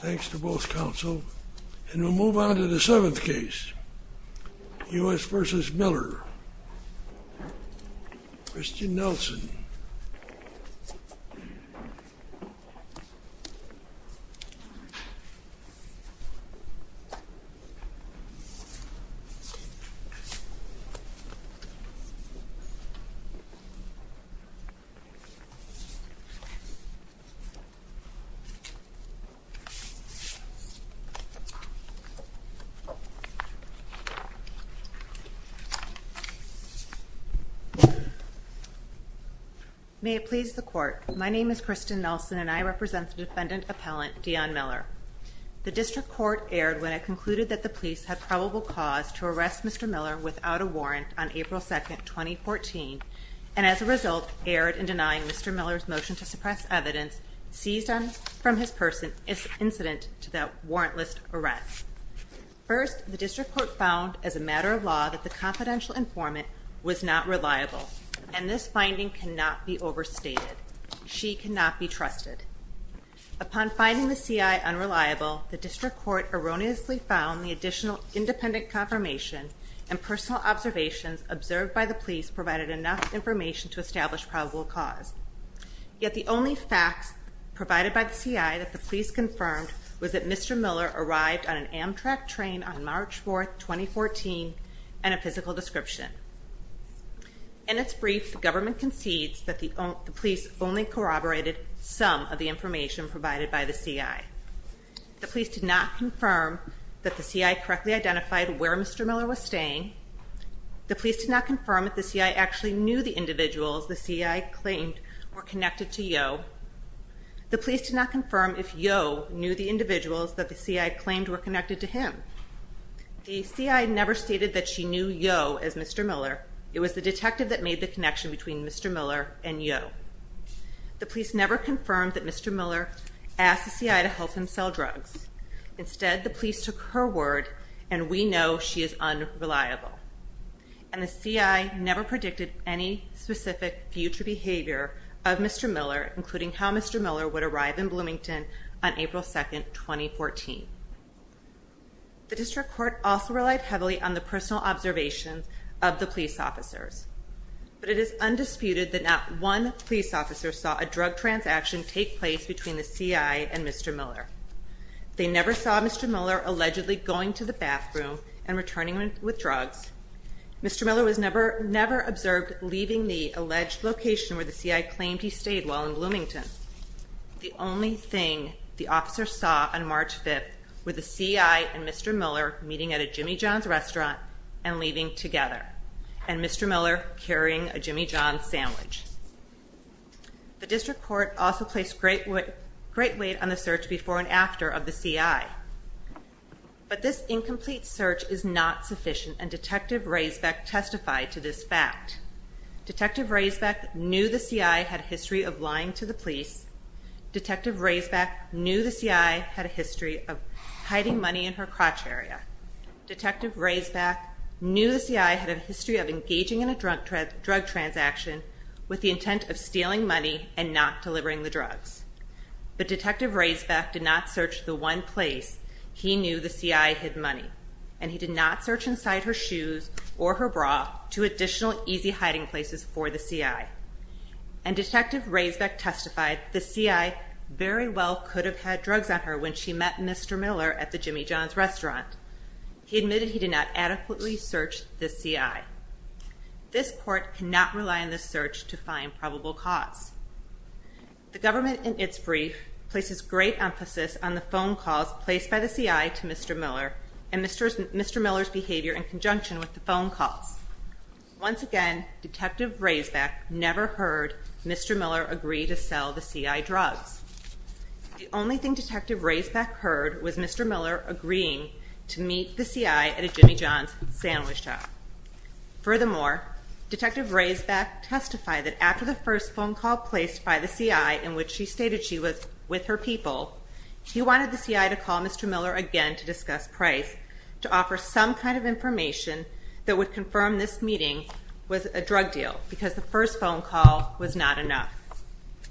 Thanks to both counsel, and we'll move on to the seventh case, U.S. v. Miller, Christian Nelson. May it please the Court, my name is Christian Nelson, and I represent the defendant appellant, Dion Miller. The District Court erred when it concluded that the police had probable cause to arrest Mr. Miller without a warrant on April 2, 2014, and as a result erred in denying Mr. Miller's motion to suppress evidence seized from his person as incident to that warrantless arrest. First, the District Court found, as a matter of law, that the confidential informant was not reliable, and this finding cannot be overstated. She cannot be trusted. Upon finding the C.I. unreliable, the District Court erroneously found the additional independent confirmation and personal observations observed by the police provided enough information to establish probable cause. Yet the only facts provided by the C.I. that the police confirmed was that Mr. Miller arrived on an Amtrak train on March 4, 2014, and a physical description. In its brief, the government concedes that the police only corroborated some of the information provided by the C.I. The police did not confirm that the C.I. correctly identified where Mr. Miller was staying. The police did not confirm if the C.I. actually knew the individuals the C.I. claimed were connected to Yo. The police did not confirm if Yo knew the individuals that the C.I. claimed were connected to him. The C.I. never stated that she knew Yo as Mr. Miller. It was the detective that made the connection between Mr. Miller and Yo. The police never confirmed that Mr. Miller asked the C.I. to help him sell drugs. Instead, the police took her word, and we know she is unreliable. And the C.I. never predicted any specific future behavior of Mr. Miller, including how Mr. Miller would arrive in Bloomington on April 2, 2014. The District Court also relied heavily on the personal observations of the police officers. But it is undisputed that not one police officer saw a drug transaction take place between the C.I. and Mr. Miller. They never saw Mr. Miller allegedly going to the bathroom and returning with drugs. Mr. Miller was never observed leaving the alleged location where the C.I. claimed he stayed while in Bloomington. The only thing the officers saw on March 5th were the C.I. and Mr. Miller meeting at a Jimmy John's restaurant and leaving together. And Mr. Miller carrying a Jimmy John's sandwich. The District Court also placed great weight on the search before and after of the C.I. But this incomplete search is not sufficient, and Detective Raysbeck testified to this fact. Detective Raysbeck knew the C.I. had a history of lying to the police. Detective Raysbeck knew the C.I. had a history of hiding money in her crotch area. Detective Raysbeck knew the C.I. had a history of engaging in a drug transaction with the intent of stealing money and not delivering the drugs. But Detective Raysbeck did not search the one place he knew the C.I. hid money. And he did not search inside her shoes or her bra to additional easy hiding places for the C.I. And Detective Raysbeck testified the C.I. very well could have had drugs on her when she met Mr. Miller at the Jimmy John's restaurant. He admitted he did not adequately search the C.I. This court cannot rely on this search to find probable cause. The government in its brief places great emphasis on the phone calls placed by the C.I. to Mr. Miller and Mr. Miller's behavior in conjunction with the phone calls. Once again, Detective Raysbeck never heard Mr. Miller agree to sell the C.I. drugs. The only thing Detective Raysbeck heard was Mr. Miller agreeing to meet the C.I. at a Jimmy John's sandwich shop. Furthermore, Detective Raysbeck testified that after the first phone call placed by the C.I. in which she stated she was with her people, he wanted the C.I. to call Mr. Miller again to discuss Price to offer some kind of information that would confirm this meeting was a drug deal, because the first phone call was not enough.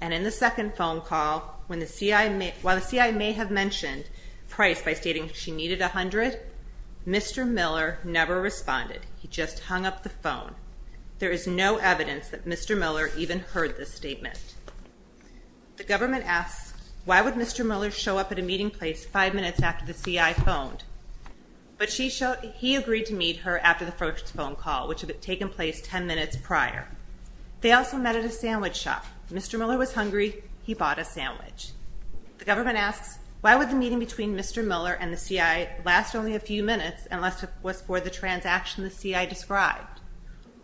And in the second phone call, while the C.I. may have mentioned Price by stating she needed 100, Mr. Miller never responded. He just hung up the phone. There is no evidence that Mr. Miller even heard this statement. The government asks, why would Mr. Miller show up at a meeting place five minutes after the C.I. phoned? But he agreed to meet her after the first phone call, which had taken place 10 minutes prior. They also met at a sandwich shop. Mr. Miller was hungry. He bought a sandwich. The government asks, why would the meeting between Mr. Miller and the C.I. last only a few minutes unless it was for the transaction the C.I. described?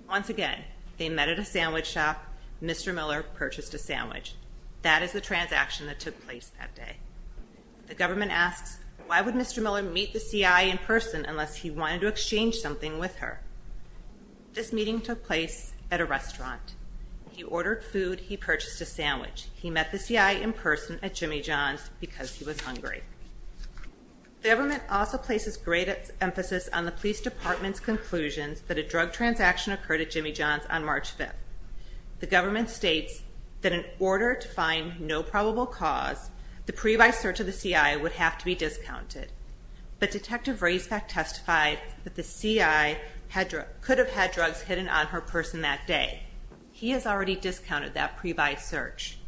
Once again, they met at a sandwich shop. Mr. Miller purchased a sandwich. That is the transaction that took place that day. The government asks, why would Mr. Miller meet the C.I. in person unless he wanted to exchange something with her? This meeting took place at a restaurant. He ordered food. He purchased a sandwich. He met the C.I. in person at Jimmy John's because he was hungry. The government also places great emphasis on the police department's conclusions that a drug transaction occurred at Jimmy John's on March 5th. The government states that in order to find no probable cause, the pre-buy search of the C.I. would have to be discounted. But Detective Raisback testified that the C.I. could have had drugs hidden on her person that day. He has already discounted that pre-buy search.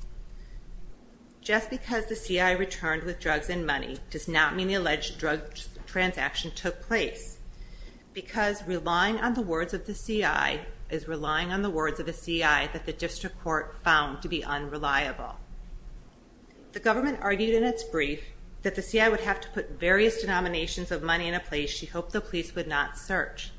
Just because the C.I. returned with drugs and money does not mean the alleged drug transaction took place. Because relying on the words of the C.I. is relying on the words of the C.I. that the district court found to be unreliable. The government argued in its brief that the C.I. would have to put various denominations of money in a place she hoped the police would not search.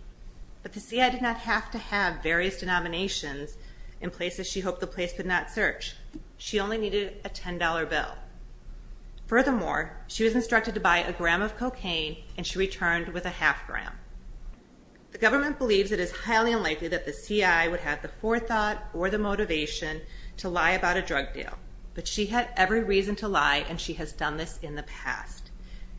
But the C.I. did not have to have various denominations in places she hoped the police would not search. She only needed a $10 bill. Furthermore, she was instructed to buy a gram of cocaine and she returned with a half gram. The government believes it is highly unlikely that the C.I. would have the forethought or the motivation to lie about a drug deal. But she had every reason to lie and she has done this in the past.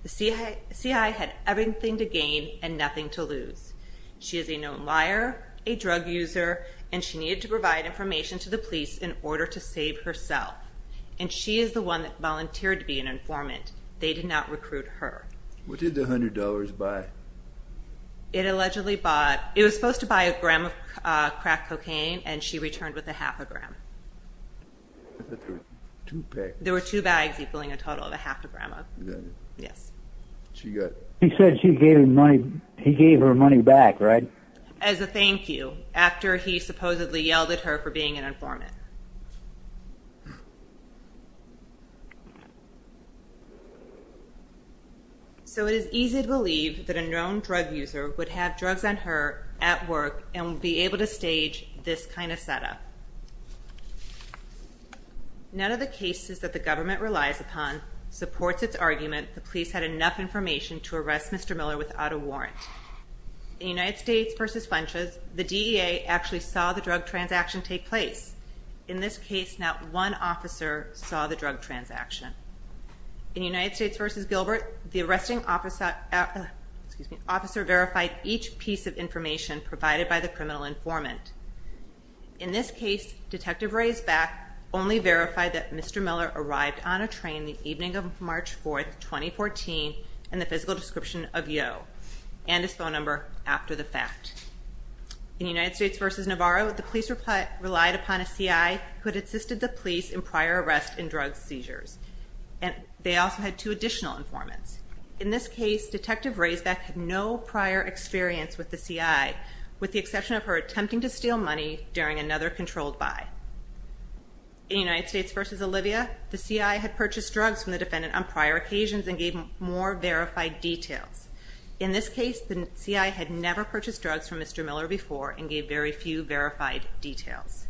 The C.I. had everything to gain and nothing to lose. She is a known liar, a drug user, and she needed to provide information to the police in order to save herself. And she is the one that volunteered to be an informant. They did not recruit her. What did the $100 buy? It allegedly bought, it was supposed to buy a gram of crack cocaine and she returned with a half a gram. There were two bags equaling a total of a half a gram. She said she gave her money back, right? As a thank you, after he supposedly yelled at her for being an informant. So it is easy to believe that a known drug user would have drugs on her at work and would be able to stage this kind of setup. None of the cases that the government relies upon supports its argument that the police had enough information to arrest Mr. Miller without a warrant. In United States v. Funches, the DEA actually saw the drug transaction take place. In this case, not one officer saw the drug transaction. In United States v. Gilbert, the arresting officer verified each piece of information provided by the criminal informant. In this case, Detective Raysback only verified that Mr. Miller arrived on a train the evening of March 4, 2014 and the physical description of Yeo and his phone number after the fact. In United States v. Navarro, the police relied upon a CI who had assisted the police in prior arrests and drug seizures. They also had two additional informants. In this case, Detective Raysback had no prior experience with the CI, with the exception of her attempting to steal money during another controlled buy. In United States v. Olivia, the CI had purchased drugs from the defendant on prior occasions and gave more verified details. In this case, the CI had never purchased drugs from Mr. Miller before and gave very few verified details.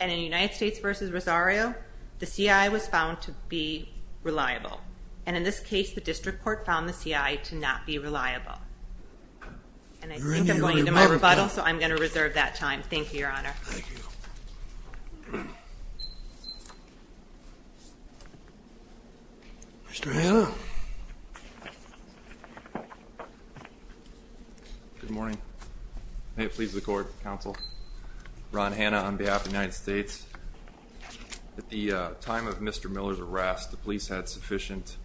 And in United States v. Rosario, the CI was found to be reliable. And in this case, the district court found the CI to not be reliable. And I think I'm going into my rebuttal, so I'm going to reserve that time. Thank you, Your Honor. Thank you. Mr. Hanna. Good morning. May it please the Court, Counsel. Ron Hanna on behalf of the United States. At the time of Mr. Miller's arrest, the police had sufficient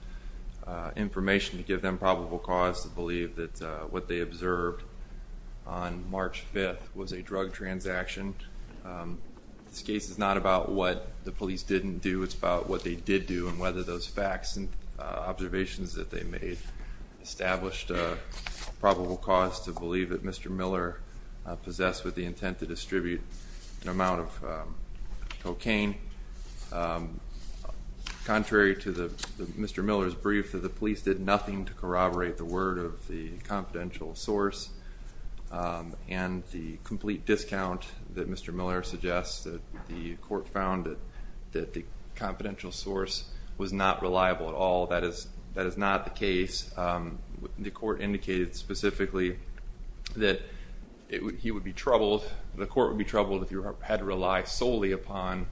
information to give them probable cause to believe that what they observed on March 5th was a drug transaction. This case is not about what the police didn't do. Contrary to Mr. Miller's brief, the police did nothing to corroborate the word of the confidential source. And the complete discount that Mr. Miller suggests, the court found that the confidential source was not reliable at all. The court indicated specifically that he would be troubled, the court would be troubled if you had to rely solely upon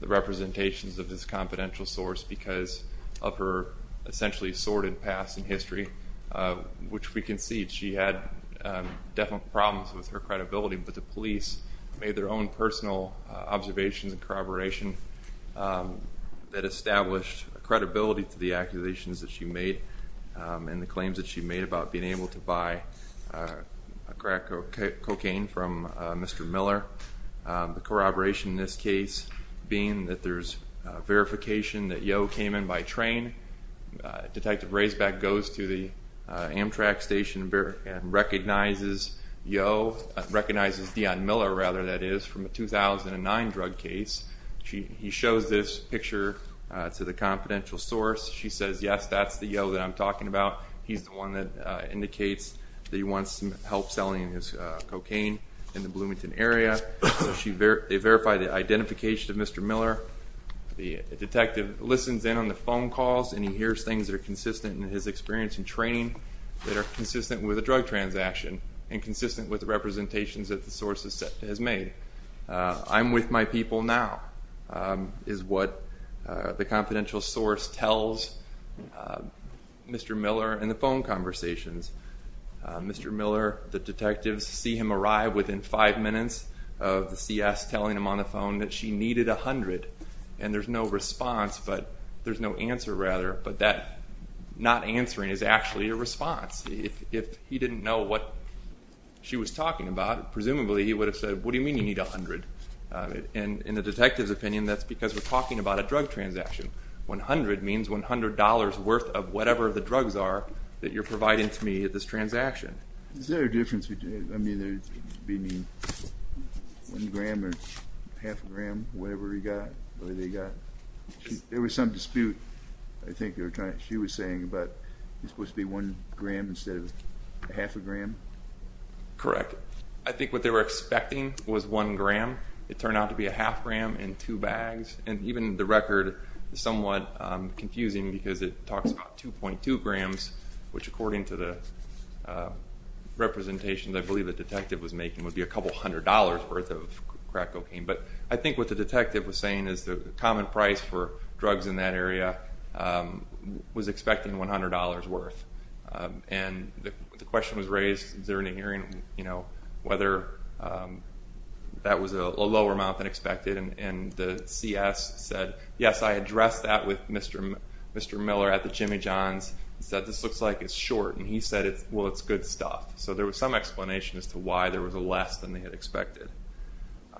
the representations of this confidential source because of her essentially assorted past and history. Which we can see, she had definite problems with her credibility, but the police made their own personal observations and corroboration that established credibility to the accusations that she made. And the claims that she made about being able to buy crack cocaine from Mr. Miller. The corroboration in this case being that there's verification that Yo came in by train. Detective Raysback goes to the Amtrak station and recognizes Yo, recognizes Dion Miller rather that is, from a 2009 drug case. He shows this picture to the confidential source. She says, yes, that's the Yo that I'm talking about. He's the one that indicates that he wants some help selling his cocaine in the Bloomington area. They verify the identification of Mr. Miller. The detective listens in on the phone calls and he hears things that are consistent in his experience in training. That are consistent with a drug transaction and consistent with the representations that the source has made. I'm with my people now, is what the confidential source tells Mr. Miller in the phone conversations. Mr. Miller, the detectives see him arrive within five minutes of the CS telling him on the phone that she needed 100. And there's no response, there's no answer rather, but that not answering is actually a response. If he didn't know what she was talking about, presumably he would have said, what do you mean you need 100? And in the detective's opinion, that's because we're talking about a drug transaction. 100 means $100 worth of whatever the drugs are that you're providing to me at this transaction. Is there a difference between, I mean, 1 gram or half a gram, whatever he got, whatever they got? There was some dispute, I think you were trying, she was saying about, it's supposed to be 1 gram instead of half a gram? Correct. I think what they were expecting was 1 gram. It turned out to be a half gram in two bags. And even the record is somewhat confusing because it talks about 2.2 grams, which according to the representations I believe the detective was making would be a couple hundred dollars worth of crack cocaine. But I think what the detective was saying is the common price for drugs in that area was expecting $100 worth. And the question was raised during the hearing, you know, whether that was a lower amount than expected. And the CS said, yes, I addressed that with Mr. Miller at the Jimmy John's. He said, this looks like it's short. And he said, well, it's good stuff. So there was some explanation as to why there was a less than they had expected.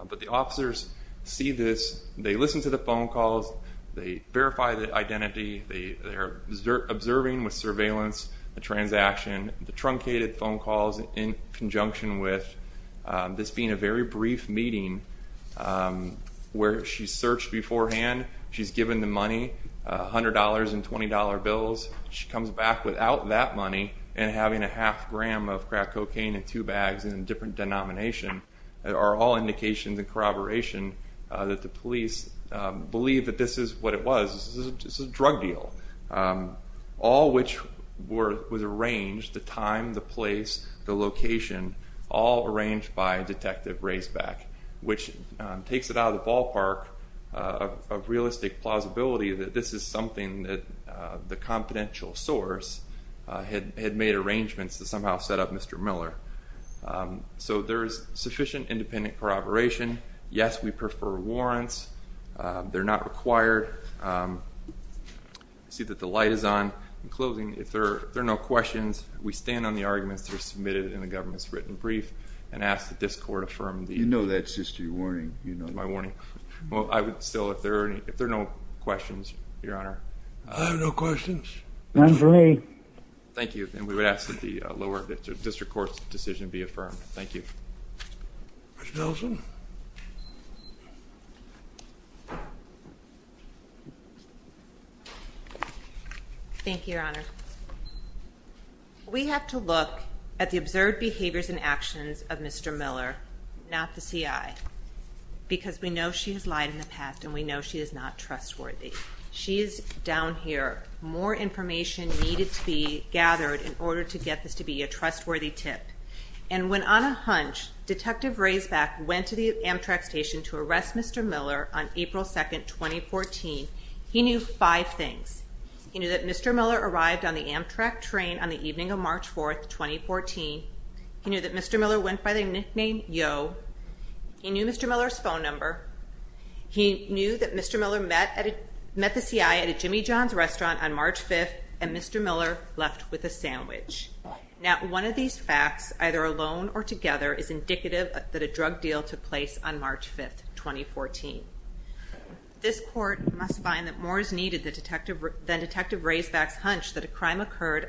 But the officers see this, they listen to the phone calls, they verify the identity, they are observing with surveillance the transaction, the truncated phone calls in conjunction with this being a very brief meeting where she searched beforehand, she's given the money, $100 and $20 bills, she comes back without that money and having a half gram of crack cocaine in two bags in a different denomination. There are all indications and corroboration that the police believe that this is what it was. This is a drug deal, all which was arranged, the time, the place, the location, all arranged by Detective Raysback, which takes it out of the ballpark of realistic plausibility that this is something that the confidential source had made arrangements to somehow set up Mr. Miller. So there is sufficient independent corroboration. Yes, we prefer warrants. They're not required. I see that the light is on. In closing, if there are no questions, we stand on the arguments that were submitted in the government's written brief and ask that this court affirm the... You know that's just your warning. My warning. Well, I would still, if there are no questions, Your Honor. I have no questions. None for me. Thank you. And we would ask that the lower district court's decision be affirmed. Thank you. Ms. Nelson? Thank you, Your Honor. We have to look at the observed behaviors and actions of Mr. Miller, not the CI, because we know she has lied in the past and we know she is not trustworthy. She is down here. More information needed to be gathered in order to get this to be a trustworthy tip. And when, on a hunch, Detective Raysback went to the Amtrak station to arrest Mr. Miller on April 2, 2014, he knew five things. He knew that Mr. Miller arrived on the Amtrak train on the evening of March 4, 2014. He knew that Mr. Miller went by the nickname Yo. He knew Mr. Miller's phone number. He knew that Mr. Miller met the CI at a Jimmy John's restaurant on March 5, and Mr. Miller left with a sandwich. Now, one of these facts, either alone or together, is indicative that a drug deal took place on March 5, 2014. This court must find that more is needed than Detective Raysback's hunch that a crime occurred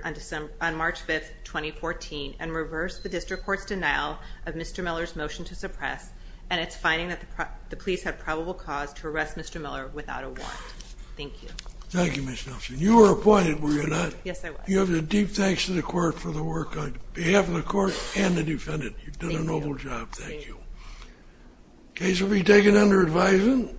on March 5, 2014 and reverse the district court's denial of Mr. Miller's motion to suppress, and it's finding that the police had probable cause to arrest Mr. Miller without a warrant. Thank you. Thank you, Ms. Nelson. You were appointed, were you not? Yes, I was. You have the deep thanks to the court for the work on behalf of the court and the defendant. You've done a noble job. Thank you. The case will be taken under advisement.